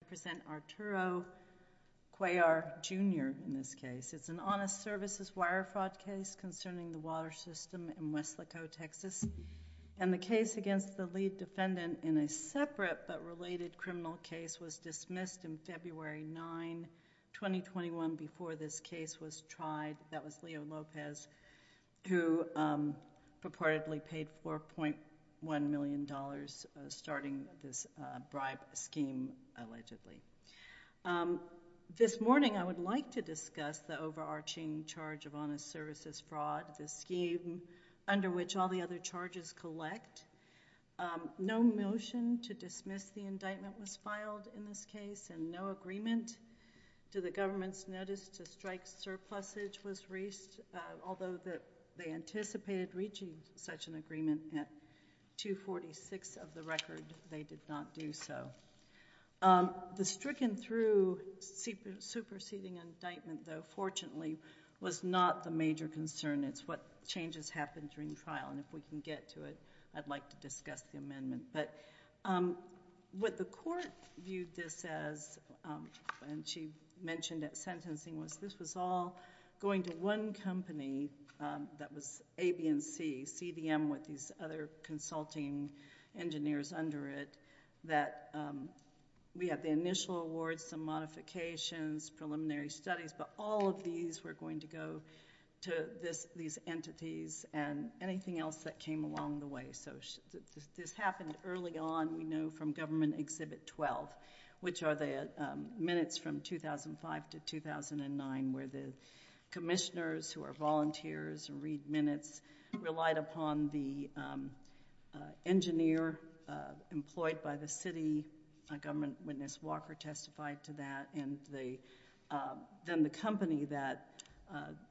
to present Arturo Cuellar, Jr. in this case. It's an honest services wire fraud case concerning the water system in West Laco, Texas. And the case against the lead defendant in a separate but related criminal case was dismissed in February 9, 2021 before this case was tried. That was Leo Lopez who purportedly paid $4.1 million starting this bribe scheme allegedly. This morning, I would like to discuss the overarching charge of honest services fraud, the scheme under which all the other charges collect. No motion to dismiss the indictment was filed in this case and no agreement to the government's notice to strike surplusage was reached, although they anticipated reaching such an agreement at 246 of the record, they did not do so. The stricken through superseding indictment, though fortunately, was not the major concern. It's what changes happened during trial. And if we can get to it, I'd like to discuss the amendment. But what the court viewed this as, and she mentioned at sentencing, was this was all going to one company that was A, B, and C, CDM with these other consulting engineers under it that we had the initial awards, some modifications, preliminary studies, but all of these were going to go to these entities and anything else that came along the way. So this happened early on, we know from government exhibit 12, which are the minutes from 2005 to 2009 where the commissioners who are volunteers and read minutes relied upon the engineer employed by the city, a government witness Walker testified to that, and then the company that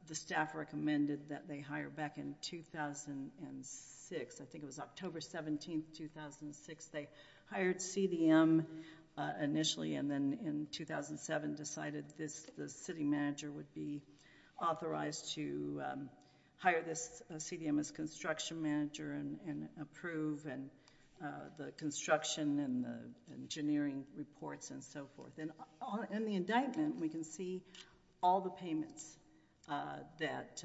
the staff recommended that they hire back in 2006, I think it was October 17th, 2006, they hired CDM initially and then in 2007 decided the city manager would be authorized to hire this CDM as construction manager and approve the construction and the engineering reports and so forth. And in the indictment, we can see all the payments that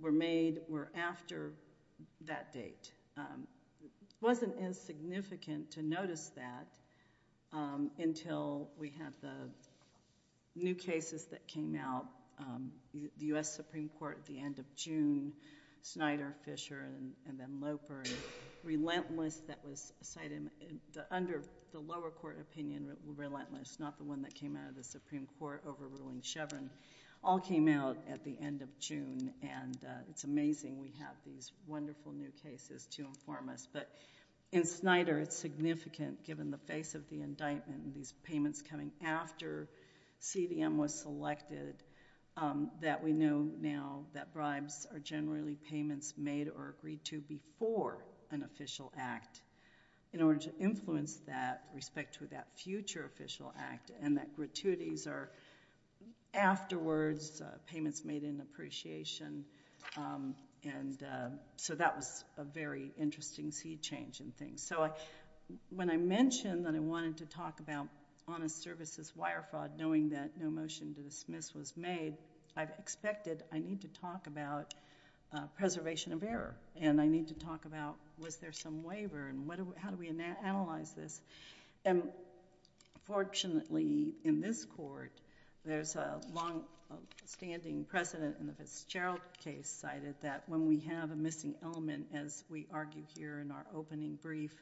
were made were after that date. Wasn't as significant to notice that until we have the new cases that came out, the US Supreme Court at the end of June, Snyder, Fisher, and then Loper, relentless that was cited under the lower court opinion, relentless, not the one that came out of the Supreme Court overruling Chevron, all came out at the end of June and it's amazing we have these wonderful new cases to inform us, but in Snyder it's significant given the face of the indictment, these payments coming after CDM was selected that we know now that bribes are generally payments made or agreed to before an official act in order to influence that respect to that future official act and that gratuities are afterwards payments made in appreciation. And so that was a very interesting seed change in things. So when I mentioned that I wanted to talk about honest services wire fraud knowing that no motion to dismiss was made, I've expected I need to talk about preservation of error and I need to talk about was there some waiver and how do we analyze this? And fortunately in this court, there's a long standing precedent in the Fitzgerald case cited that when we have a missing element as we argue here in our opening brief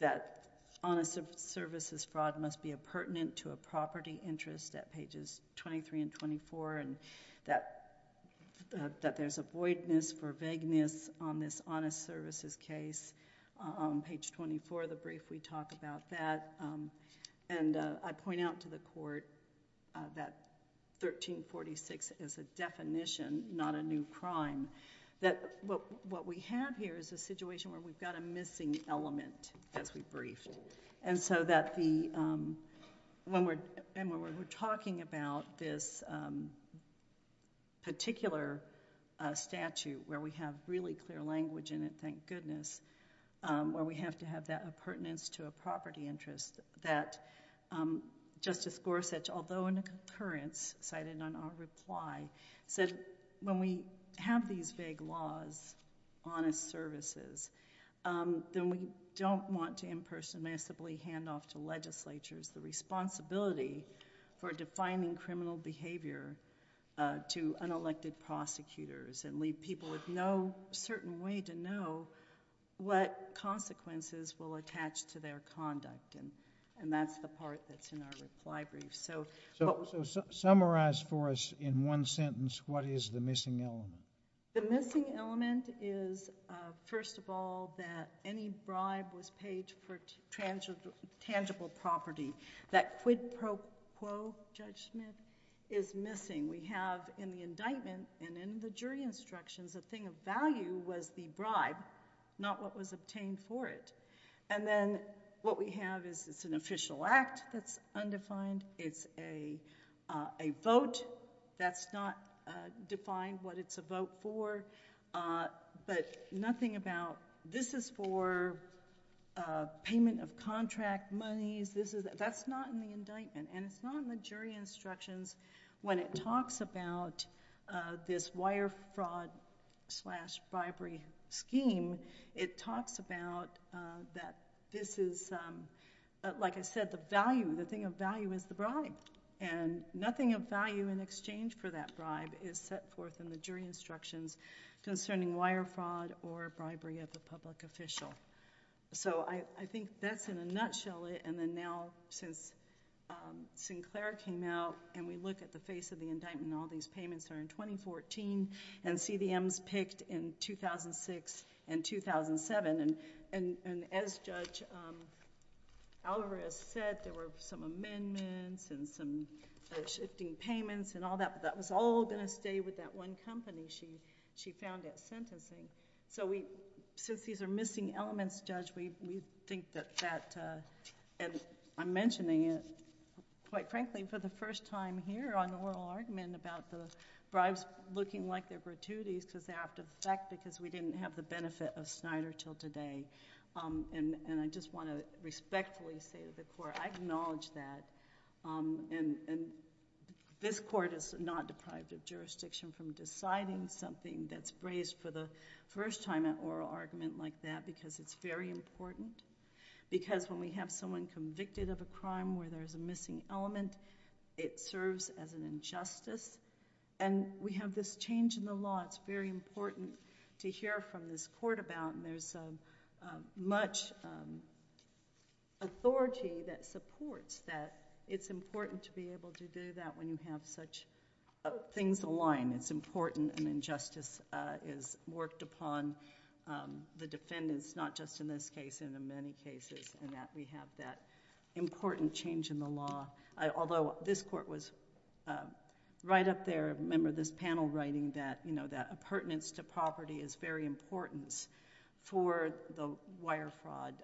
that honest services fraud must be a pertinent to a property interest at pages 23 and 24 and that there's a voidness for vagueness on this honest services case. On page 24 of the brief we talk about that and I point out to the court that 1346 is a definition not a new crime that what we have here is a situation where we've got a missing element as we briefed. And so that the, when we're talking about this particular statute where we have really clear language in it, thank goodness, where we have to have that a pertinence to a property interest that Justice Gorsuch, although in a concurrence cited on our reply, said when we have these vague laws, honest services, then we don't want to impersonally hand off to legislatures the responsibility for defining criminal behavior to unelected prosecutors and leave people with no certain way to know what consequences will attach to their conduct and that's the part that's in our reply brief. So summarize for us in one sentence what is the missing element? The missing element is, first of all, that any bribe was paid for tangible property. That quid pro quo judgment is missing. We have in the indictment and in the jury instructions a thing of value was the bribe, not what was obtained for it. And then what we have is it's an official act that's undefined, it's a vote that's not defined what it's a vote for, but nothing about this is for payment of contract monies, that's not in the indictment and it's not in the jury instructions when it talks about this wire fraud slash bribery scheme, it talks about that this is, like I said, the thing of value is the bribe and nothing of value in exchange for that bribe is set forth in the jury instructions concerning wire fraud or bribery of a public official. So I think that's in a nutshell it and then now since Sinclair came out and we look at the face of the indictment and all these payments are in 2014 and CDM's picked in 2006 and 2007 and as Judge Alvarez said there were some amendments and some shifting payments and all that but that was all gonna stay with that one company she found at sentencing. So we, since these are missing elements, Judge, we think that that, and I'm mentioning it quite frankly for the first time here on oral argument about the bribes looking like they're gratuities because they have to affect because we didn't have the benefit of Snyder till today and I just wanna respectfully say to the court I acknowledge that and this court is not deprived of jurisdiction from deciding something that's raised for the first time at oral argument like that because it's very important because when we have someone convicted of a crime where there's a missing element, it serves as an injustice and we have this change in the law. It's very important to hear from this court and there's much authority that supports that it's important to be able to do that when you have such things aligned. It's important an injustice is worked upon, the defendants not just in this case and in many cases and that we have that important change in the law. Although this court was right up there, remember this panel writing that pertinence to property is very important for the wire fraud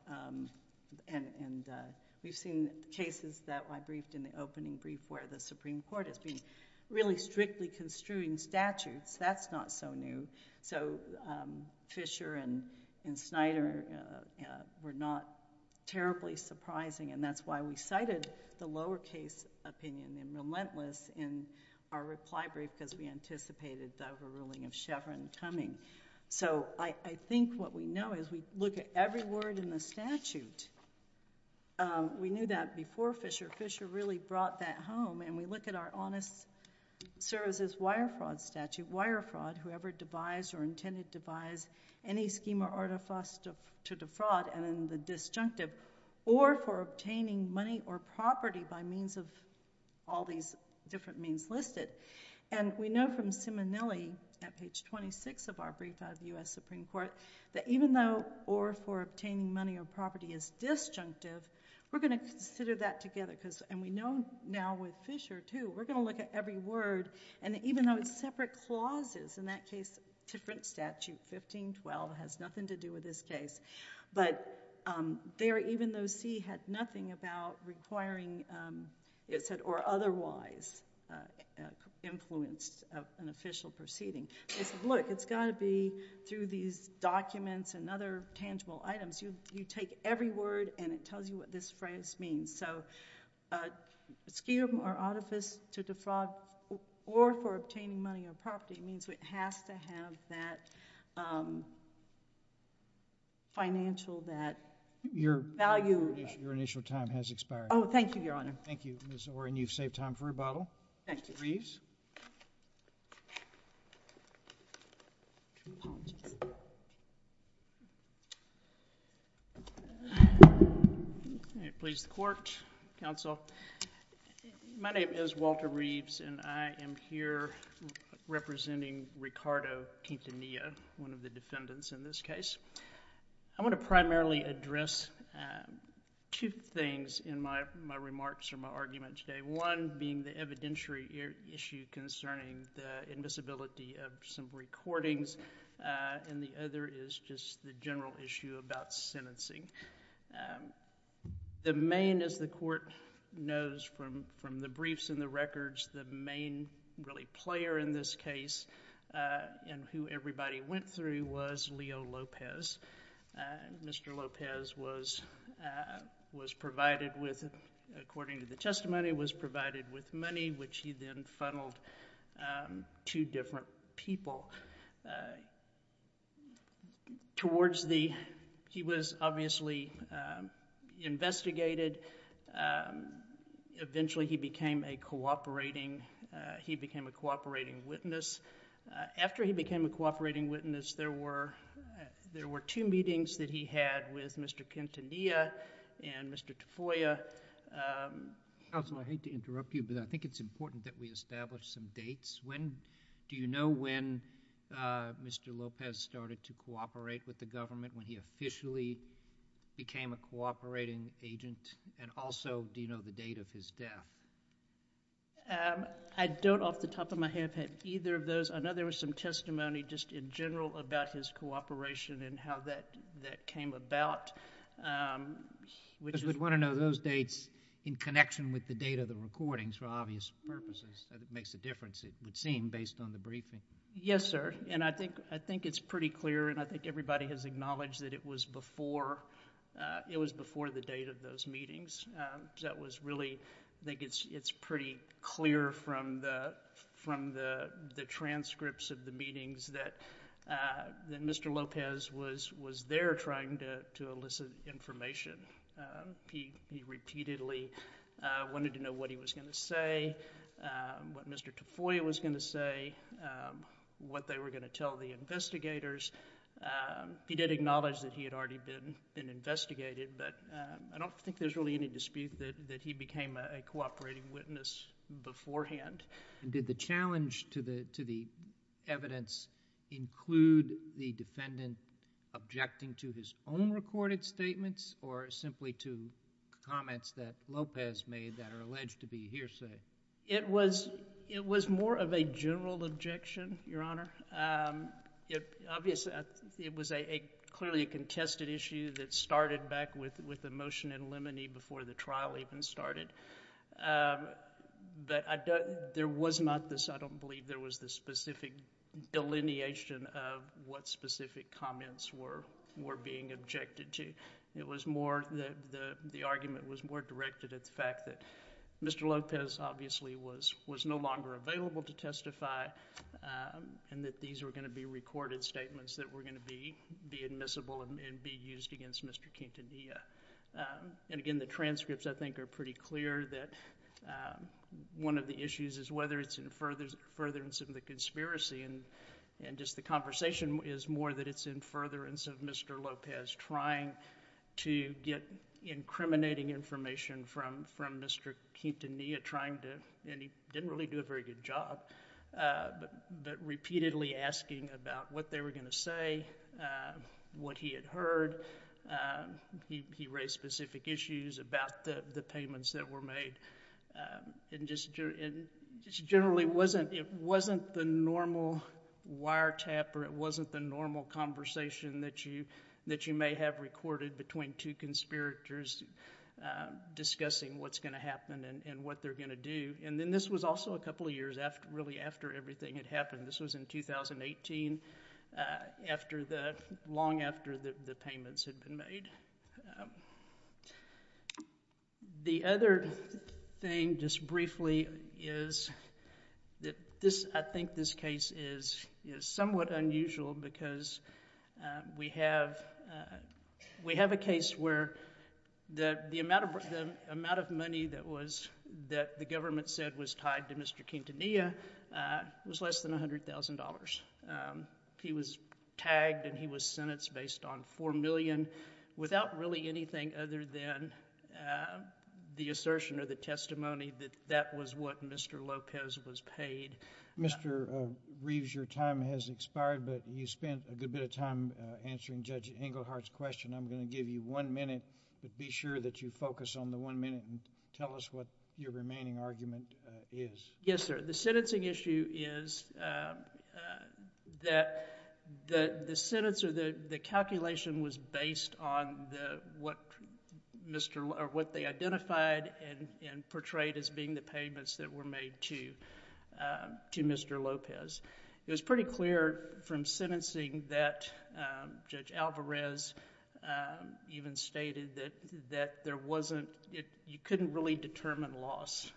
and we've seen cases that I briefed in the opening brief where the Supreme Court has been really strictly construing statutes. That's not so new. So Fisher and Snyder were not terribly surprising and that's why we cited the lower case opinion in relentless in our reply brief because we anticipated the overruling of Chevron Tumming. So I think what we know is we look at every word in the statute. We knew that before Fisher. Fisher really brought that home and we look at our honest services wire fraud statute. Wire fraud, whoever devised or intended to devise any scheme or artifice to defraud and then the disjunctive or for obtaining money or property by means of all these different means listed. And we know from Simonelli at page 26 of our brief out of the US Supreme Court that even though or for obtaining money or property is disjunctive, we're gonna consider that together and we know now with Fisher too, we're gonna look at every word and even though it's separate clauses, in that case, different statute, 1512, has nothing to do with this case, but there even though C had nothing about requiring it said or otherwise influenced an official proceeding. They said, look, it's gotta be through these documents and other tangible items. You take every word and it tells you what this phrase means. So scheme or artifice to defraud or for obtaining money or property means it has to have that financial, that value. Your initial time has expired. Oh, thank you, Your Honor. Thank you, Ms. Orin. You've saved time for rebuttal. Thank you. Mr. Reeves. Please court, counsel. My name is Walter Reeves and I am here representing Ricardo Pintanilla, one of the defendants in this case. I wanna primarily address two things in my remarks or my argument today. One being the evidentiary issue concerning the invisibility of some recordings and the other is just the general issue about sentencing. The main, as the court knows from the briefs and the records the main really player in this case and who everybody went through was Leo Lopez. Mr. Lopez was provided with, according to the testimony, was provided with money, which he then funneled to different people. Towards the, he was obviously investigated. Eventually he became a cooperating, a cooperating witness. After he became a cooperating witness, there were two meetings that he had with Mr. Pintanilla and Mr. Tafoya. Counsel, I hate to interrupt you, but I think it's important that we establish some dates. When, do you know when Mr. Lopez started to cooperate with the government, when he officially became a cooperating agent and also do you know the date of his death? I don't off the top of my head have either of those. I know there was some testimony just in general about his cooperation and how that came about. Because we'd want to know those dates in connection with the date of the recordings for obvious purposes. That makes a difference, it would seem, based on the briefing. Yes, sir, and I think it's pretty clear and I think everybody has acknowledged that it was before the date of those meetings. That was really, I think it's pretty clear from the transcripts of the meetings that Mr. Lopez was there trying to elicit information. He repeatedly wanted to know what he was gonna say, what Mr. Tafoya was gonna say, what they were gonna tell the investigators. He did acknowledge that he had already been investigated, but I don't think there's really any dispute that he became a cooperating witness beforehand. Did the challenge to the evidence include the defendant objecting to his own recorded statements or simply to comments that Lopez made that are alleged to be hearsay? It was more of a general objection, Your Honor. Obviously, it was clearly a contested issue that started back with the motion in limine before the trial even started. But there was not this, I don't believe there was this specific delineation of what specific comments were being objected to. It was more, the argument was more directed at the fact that Mr. Lopez obviously was no longer available to testify and that these were gonna be recorded statements that were gonna be admissible and be used against Mr. Quintanilla. And again, the transcripts, I think, are pretty clear that one of the issues is whether it's in furtherance of the conspiracy and just the conversation is more that it's in furtherance of Mr. Lopez trying to get incriminating information from Mr. Quintanilla trying to, and he didn't really do a very good job, but repeatedly asking about what they were gonna say, what he had heard, he raised specific issues about the payments that were made. And just generally, it wasn't the normal wiretap or it wasn't the normal conversation that you may have recorded between two conspirators discussing what's gonna happen and what they're gonna do. And then this was also a couple of years really after everything had happened. This was in 2018, long after the payments had been made. The other thing, just briefly, is that I think this case is somewhat unusual because we have a case where the amount of money that the government said was tied to Mr. Quintanilla was less than $100,000. He was tagged and he was sentenced based on four million without really anything other than the assertion or the testimony that that was what Mr. Lopez was paid. Mr. Reeves, your time has expired, but you spent a good bit of time answering Judge Englehart's question. I'm gonna give you one minute, but be sure that you focus on the one minute and tell us what your remaining argument is. Yes, sir. The sentencing issue is that the sentence or the calculation was based on what Mr., or what they identified and portrayed as being the payments that were made to Mr. Lopez. It was pretty clear from sentencing that Judge Alvarez even stated that there wasn't, you couldn't really determine loss.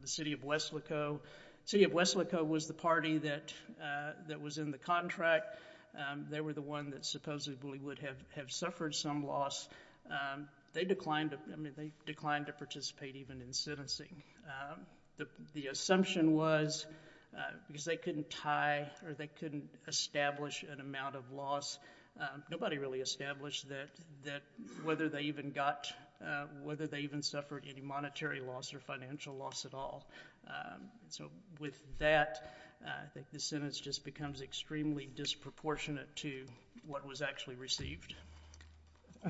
The city of West Laco, city of West Laco was the party that was in the contract. They were the one that supposedly would have suffered some loss. They declined, I mean, they declined to participate even in sentencing. The assumption was because they couldn't tie or they couldn't establish an amount of loss, nobody really established that whether they even got, whether they even suffered any monetary loss or financial loss at all. So with that, I think the sentence just becomes extremely disproportionate to what was actually received.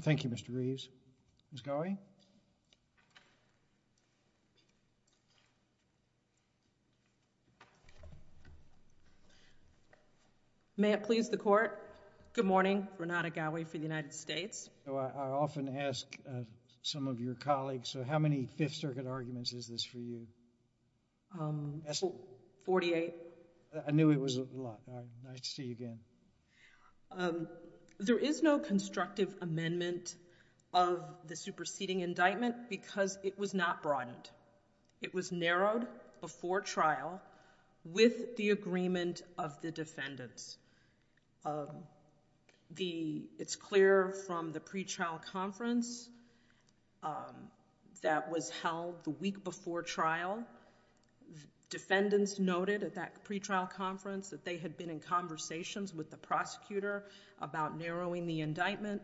Thank you, Mr. Reeves. Ms. Goway. May it please the court, good morning, Renata Goway for the United States. So I often ask some of your colleagues, so how many Fifth Circuit arguments is this for you? 48. I knew it was a lot, nice to see you again. There is no constructive amendment of the superseding indictment because it was not broadened. It was narrowed before trial with the agreement of the defendants. It's clear from the pre-trial conference that was held the week before trial. Defendants noted at that pre-trial conference that they had been in conversations with the prosecutor about narrowing the indictment.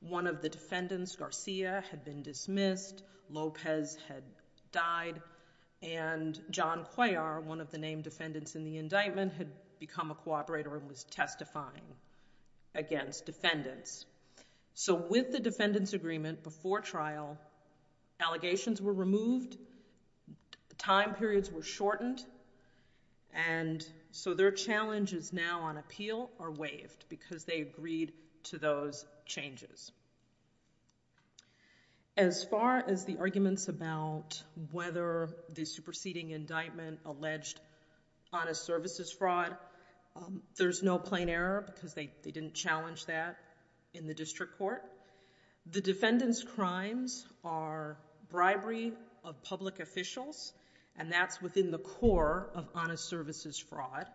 One of the defendants, Garcia, had been dismissed. Lopez had died. And John Cuellar, one of the named defendants in the indictment, had become a cooperator and was testifying against defendants. So with the defendants' agreement before trial, allegations were removed, time periods were shortened, and so their challenges now on appeal are waived because they agreed to those changes. As far as the arguments about whether the superseding indictment alleged honest services fraud, there's no plain error because they didn't challenge that. In the district court, the defendants' crimes are bribery of public officials, and that's within the core of honest services fraud.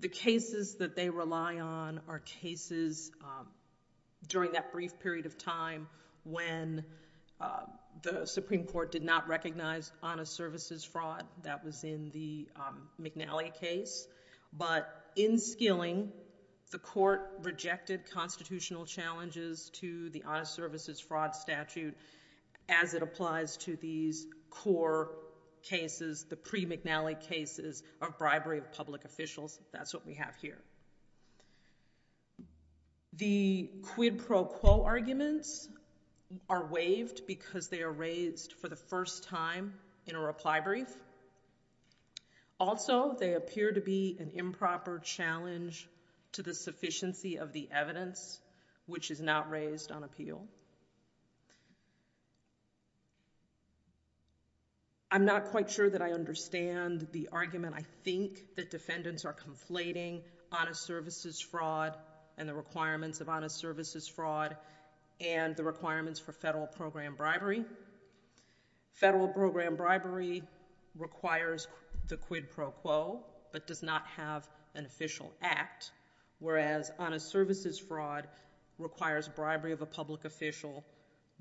The cases that they rely on are cases during that brief period of time when the Supreme Court did not recognize honest services fraud. That was in the McNally case. But in Skilling, the court rejected constitutional challenges to the honest services fraud statute as it applies to these core cases, the pre-McNally cases of bribery of public officials. That's what we have here. The quid pro quo arguments are waived because they are raised for the first time in a reply brief. Also, they appear to be an improper challenge to the sufficiency of the evidence which is not raised on appeal. I'm not quite sure that I understand the argument. I think that defendants are conflating honest services fraud and the requirements of honest services fraud and the requirements for federal program bribery. Federal program bribery requires the quid pro quo but does not have an official act, whereas honest services fraud requires bribery of a public official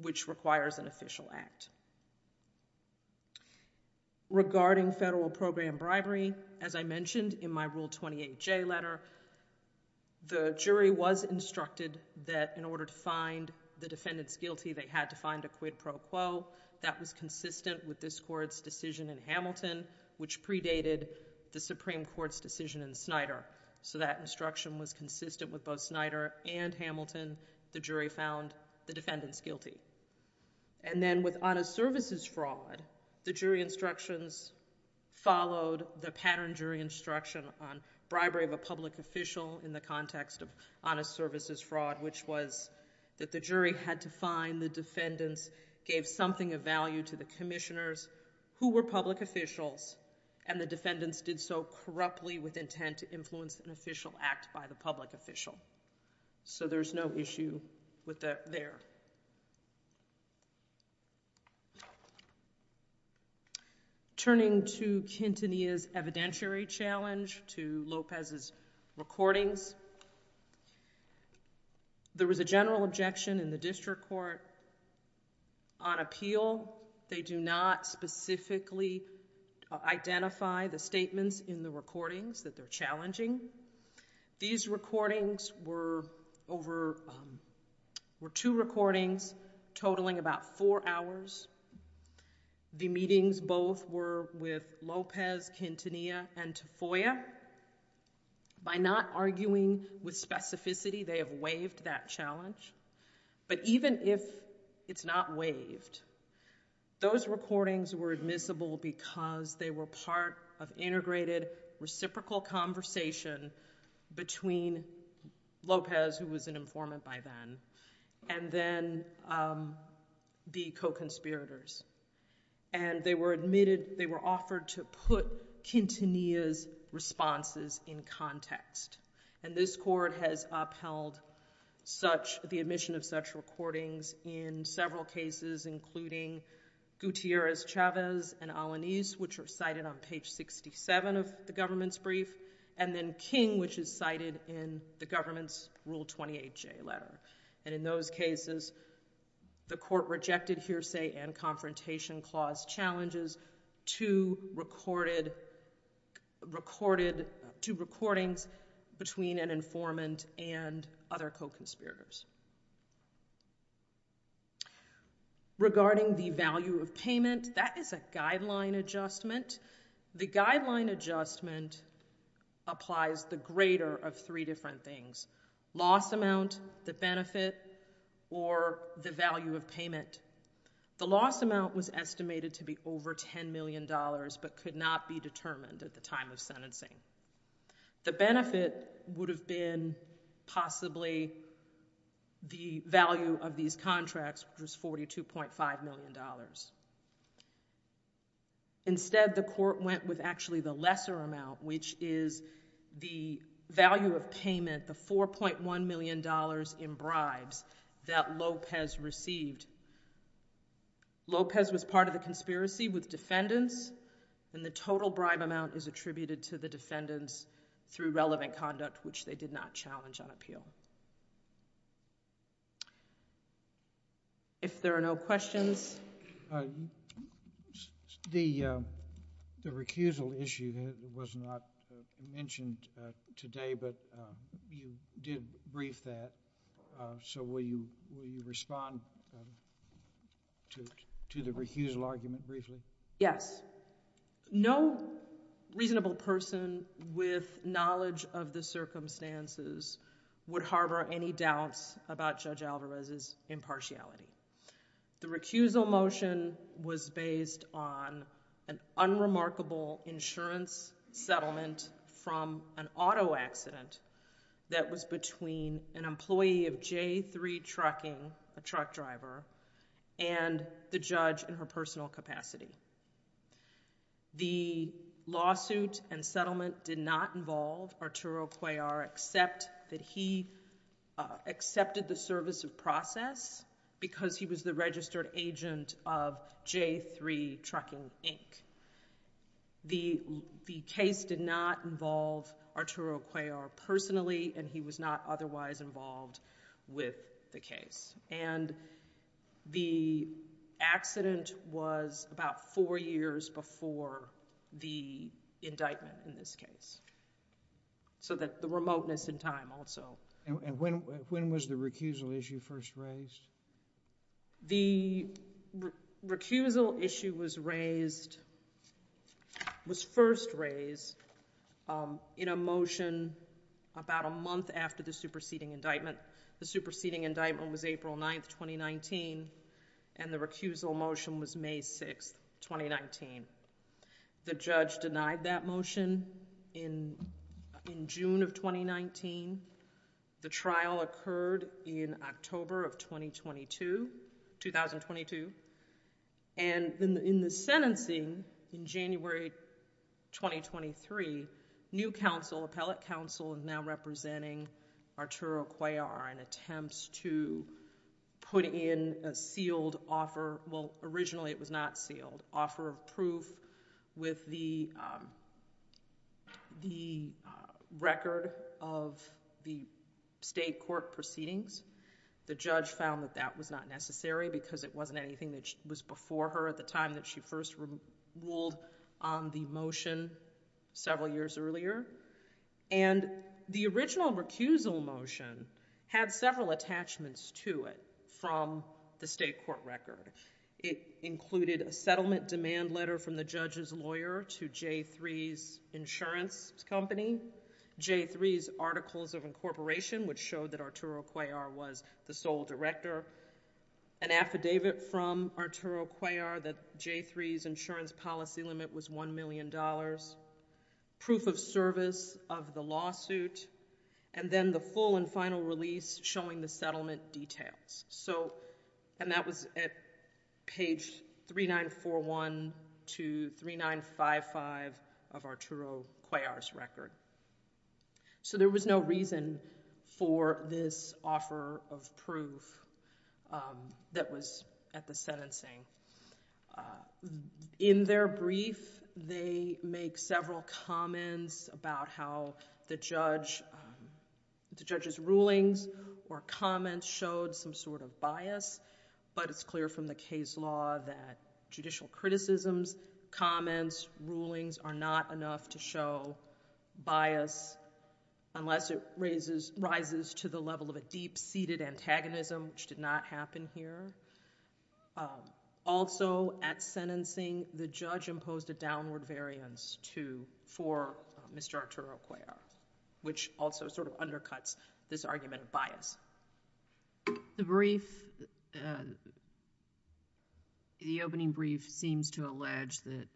which requires an official act. Regarding federal program bribery, as I mentioned in my Rule 28J letter, the jury was instructed that in order to find the defendants guilty, they had to find a quid pro quo. That was consistent with this court's decision in Hamilton which predated the Supreme Court's decision in Snyder. So that instruction was consistent with both Snyder and Hamilton. The jury found the defendants guilty. And then with honest services fraud, the jury instructions followed the pattern jury instruction on bribery of a public official in the context of honest services fraud which was that the jury had to find the defendants, gave something of value to the commissioners who were public officials and the defendants did so corruptly with intent to influence an official act by the public official. So there's no issue with that there. Turning to Quintanilla's evidentiary challenge to Lopez's recordings, there was a general objection in the district court on appeal. They do not specifically identify the statements in the recordings that they're challenging. These recordings were over, were two recordings totaling about four hours. The meetings both were with Lopez, Quintanilla and Tafoya. By not arguing with specificity, they have waived that challenge. But even if it's not waived, those recordings were admissible because they were part of integrated reciprocal conversation between Lopez who was an informant by then and then the co-conspirators. And they were admitted, they were offered to put Quintanilla's responses in context. And this court has upheld such, the admission of such recordings in several cases including Gutierrez-Chavez and Alaniz which are cited on page 67 of the government's brief and then King which is cited in the government's Rule 28J letter. And in those cases, the court rejected hearsay and confrontation clause challenges to recordings between an informant and other co-conspirators. Regarding the value of payment, that is a guideline adjustment. The guideline adjustment applies the greater of three different things, loss amount, the benefit or the value of payment. The loss amount was estimated to be over $10 million but could not be determined at the time of sentencing. The benefit would have been possibly the value of these contracts which was $42.5 million. Instead, the court went with actually the lesser amount which is the value of payment, the $4.1 million in bribes that Lopez received Lopez was part of the conspiracy with defendants and the total bribe amount is attributed to the defendants through relevant conduct which they did not challenge on appeal. If there are no questions. The recusal issue was not mentioned today but you did brief that. So will you respond to the recusal argument briefly? Yes. No reasonable person with knowledge of the circumstances would harbor any doubts about Judge Alvarez's impartiality. The recusal motion was based on an unremarkable insurance settlement from an auto accident that was between an employee of J3 Trucking, a truck driver, and the judge in her personal capacity. The lawsuit and settlement did not involve Arturo Cuellar except that he accepted the service of process because he was the registered agent of J3 Trucking, Inc. The case did not involve Arturo Cuellar personally and he was not otherwise involved with the case. And the accident was about four years before the indictment in this case. So that the remoteness in time also. And when was the recusal issue first raised? The recusal issue was first raised in a motion about a month after the superseding indictment. The superseding indictment was April 9th, 2019 and the recusal motion was May 6th, 2019. The judge denied that motion in June of 2019. The trial occurred in October of 2022. And in the sentencing in January, 2023, new counsel, appellate counsel, is now representing Arturo Cuellar in attempts to put in a sealed offer. Well, originally it was not sealed. Offer of proof with the record of J3 Trucking, Inc. the state court proceedings. The judge found that that was not necessary because it wasn't anything that was before her at the time that she first ruled on the motion several years earlier. And the original recusal motion had several attachments to it from the state court record. It included a settlement demand letter from the judge's lawyer to J3's insurance company. J3's articles of incorporation, which showed that Arturo Cuellar was the sole director. An affidavit from Arturo Cuellar that J3's insurance policy limit was $1 million. Proof of service of the lawsuit. And then the full and final release showing the settlement details. So, and that was at page 3941 to 3955 of Arturo Cuellar's record. So there was no reason for this offer of proof that was at the sentencing. In their brief, they make several comments about how the judge, the judge's rulings or comments showed some sort of bias. But it's clear from the case law that judicial criticisms, comments, rulings are not enough to show bias unless it rises to the level of a deep-seated antagonism, which did not happen here. Also, at sentencing, the judge imposed a downward variance for Mr. Arturo Cuellar, which also sort of undercuts this argument of bias. The brief, the opening brief seems to allege that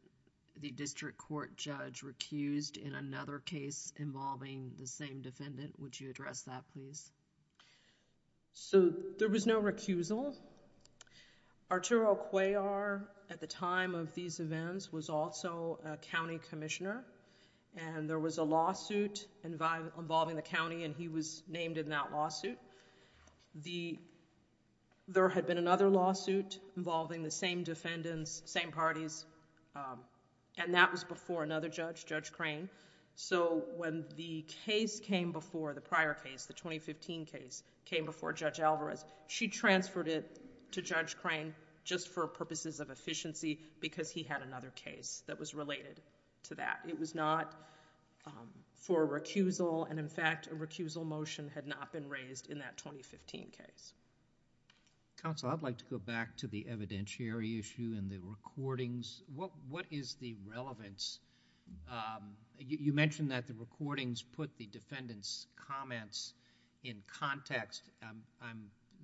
the district court judge recused in another case involving the same defendant. Would you address that, please? So there was no recusal. Arturo Cuellar, at the time of these events, was also a county commissioner. And there was a lawsuit involving the county and he was named in that lawsuit. There had been another lawsuit involving the same defendants, same parties, and that was before another judge, Judge Crane. So when the case came before, the prior case, the 2015 case, came before Judge Alvarez, she transferred it to Judge Crane just for purposes of efficiency because he had another case that was related to that. It was not for recusal. And in fact, a recusal motion had not been raised in that 2015 case. Counsel, I'd like to go back to the evidentiary issue and the recordings. What is the relevance? You mentioned that the recordings put the defendants' comments in context.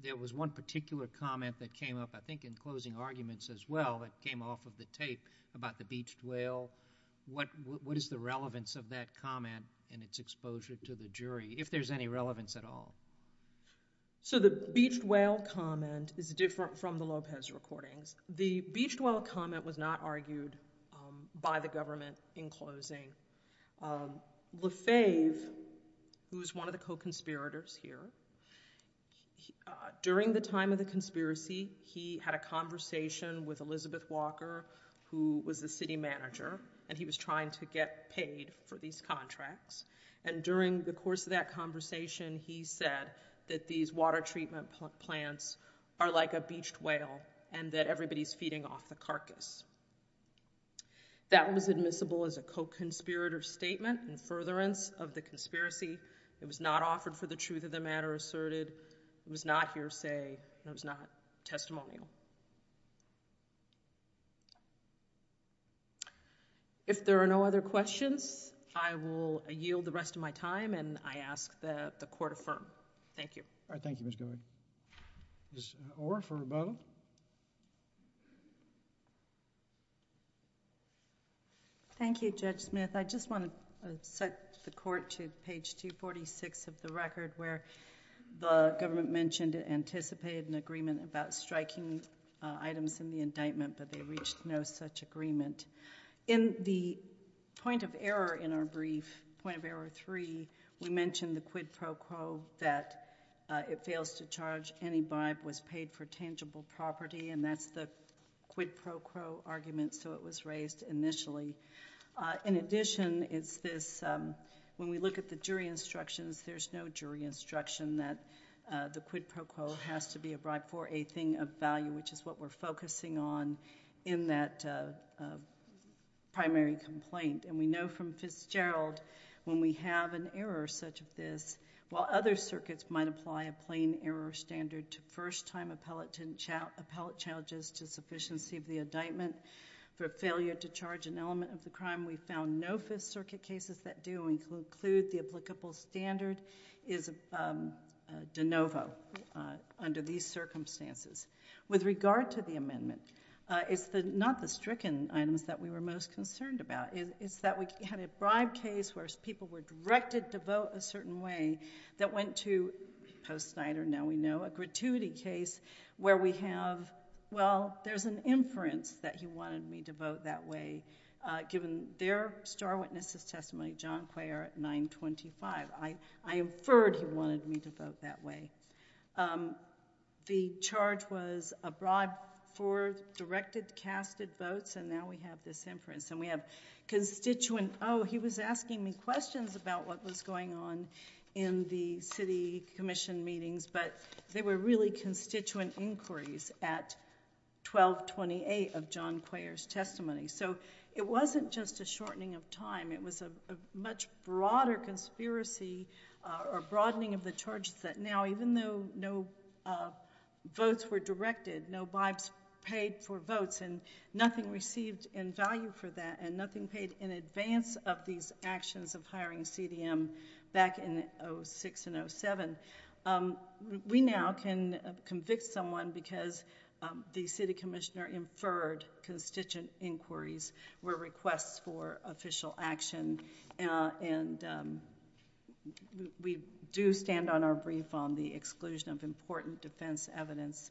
There was one particular comment that came up, I think, in closing arguments as well, that came off of the tape about the beached whale. What is the relevance of that comment in its exposure to the jury, if there's any relevance at all? So the beached whale comment is different from the Lopez recordings. The beached whale comment was not argued by the government in closing. Lefebvre, who was one of the co-conspirators here, during the time of the conspiracy, he had a conversation with Elizabeth Walker, who was the city manager, and he was trying to get paid for these contracts. And during the course of that conversation, he said that these water treatment plants are like a beached whale, and that everybody's feeding off the carcass. That was admissible as a co-conspirator statement in furtherance of the conspiracy. It was not offered for the truth of the matter asserted. It was not hearsay, and it was not testimonial. If there are no other questions, I will yield the rest of my time, and I ask that the Court affirm. Thank you. All right, thank you, Ms. Gover. Ms. Orr for Rebello. Thank you, Judge Smith. I just want to set the Court to page 246 of the record, where the government mentioned it anticipated an agreement about striking items in the indictment, but they reached no such agreement. In the point of error in our brief, point of error three, we mentioned the quid pro quo that it fails to charge any bribe was paid for tangible property, and that's the quid pro quo argument, so it was raised initially. In addition, it's this, when we look at the jury instructions, there's no jury instruction that the quid pro quo has to be a bribe for a thing of value, which is what we're focusing on in that primary complaint, and we know from Fitzgerald, when we have an error such as this, while other circuits might apply a plain error standard to first-time appellate challenges to sufficiency of the indictment, for failure to charge an element of the crime, we found no Fifth Circuit cases that do include the applicable standard is de novo under these circumstances. With regard to the amendment, it's not the stricken items that we were most concerned about. It's that we had a bribe case where people were directed to vote a certain way that went to, post-Snyder, now we know, a gratuity case where we have, well, there's an inference that he wanted me to vote that way, given their star witness' testimony, John Quayer at 925. I inferred he wanted me to vote that way. The charge was a bribe for directed, casted votes, and now we have this inference, and we have constituent, oh, he was asking me questions about what was going on in the city commission meetings, but they were really constituent inquiries at 1228 of John Quayer's testimony, so it wasn't just a shortening of time. It was a much broader conspiracy, or broadening of the charges that, and now, even though no votes were directed, no bribes paid for votes, and nothing received in value for that, and nothing paid in advance of these actions of hiring CDM back in 06 and 07, we now can convict someone because the city commissioner inferred constituent inquiries were requests for official action, and we do stand on our brief on the exclusion of important defense evidence.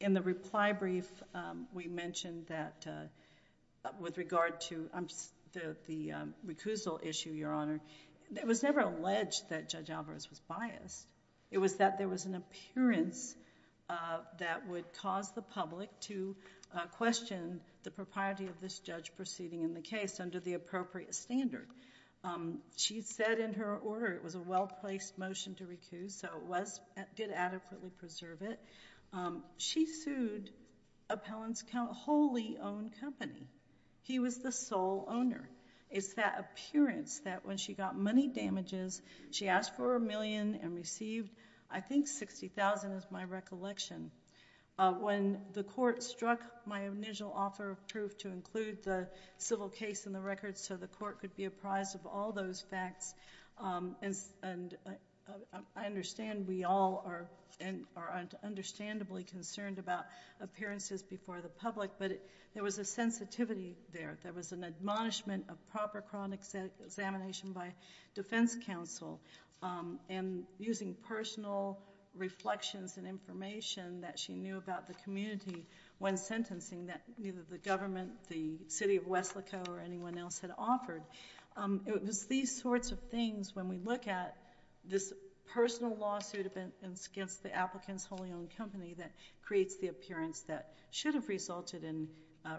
In the reply brief, we mentioned that with regard to, the recusal issue, Your Honor, it was never alleged that Judge Alvarez was biased. It was that there was an appearance that would cause the public to question the propriety of this judge proceeding in the case under the appropriate standard. She said in her order, it was a well-placed motion to recuse, so it did adequately preserve it. She sued Appellant's wholly owned company. He was the sole owner. It's that appearance that when she got money damages, she asked for a million and received, I think, 60,000 is my recollection. When the court struck my initial offer of proof to include the civil case in the record so the court could be apprised of all those facts, and I understand we all are understandably concerned about appearances before the public, but there was a sensitivity there. There was an admonishment of proper chronic examination by defense counsel, and using personal reflections and information that she knew about the community when sentencing that neither the government, the city of West Laco or anyone else had offered. It was these sorts of things when we look at this personal lawsuit against the applicant's wholly owned company that creates the appearance that should have resulted in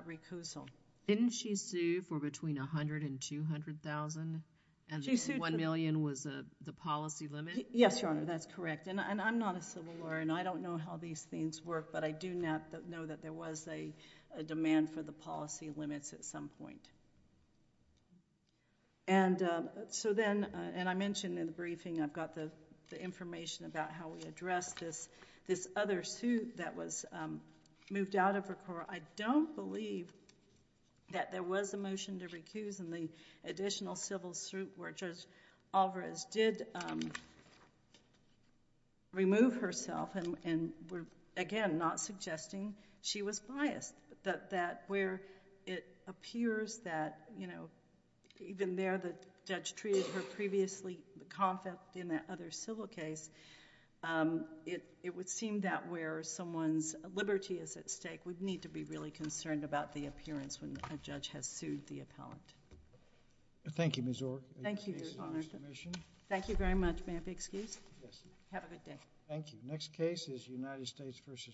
recusal. Didn't she sue for between 100 and 200,000, and the one million was the policy limit? Yes, Your Honor, that's correct, and I'm not a civil lawyer, and I don't know how these things work, but I do know that there was a demand for the policy limits at some point. And so then, and I mentioned in the briefing, I've got the information about how we addressed this other suit that was moved out of Record. I don't believe that there was a motion to recuse, and the additional civil suit where Judge Alvarez did remove herself, and again, not suggesting she was biased, that where it appears that, you know, even there the judge treated her previously confident in that other civil case, it would seem that where someone's liberty is at stake would need to be really concerned about the appearance when a judge has sued the appellant. Thank you, Ms. Orr. Thank you, Your Honor. Thank you very much, may I be excused? Yes. Have a good day. Thank you. The next case is United States v.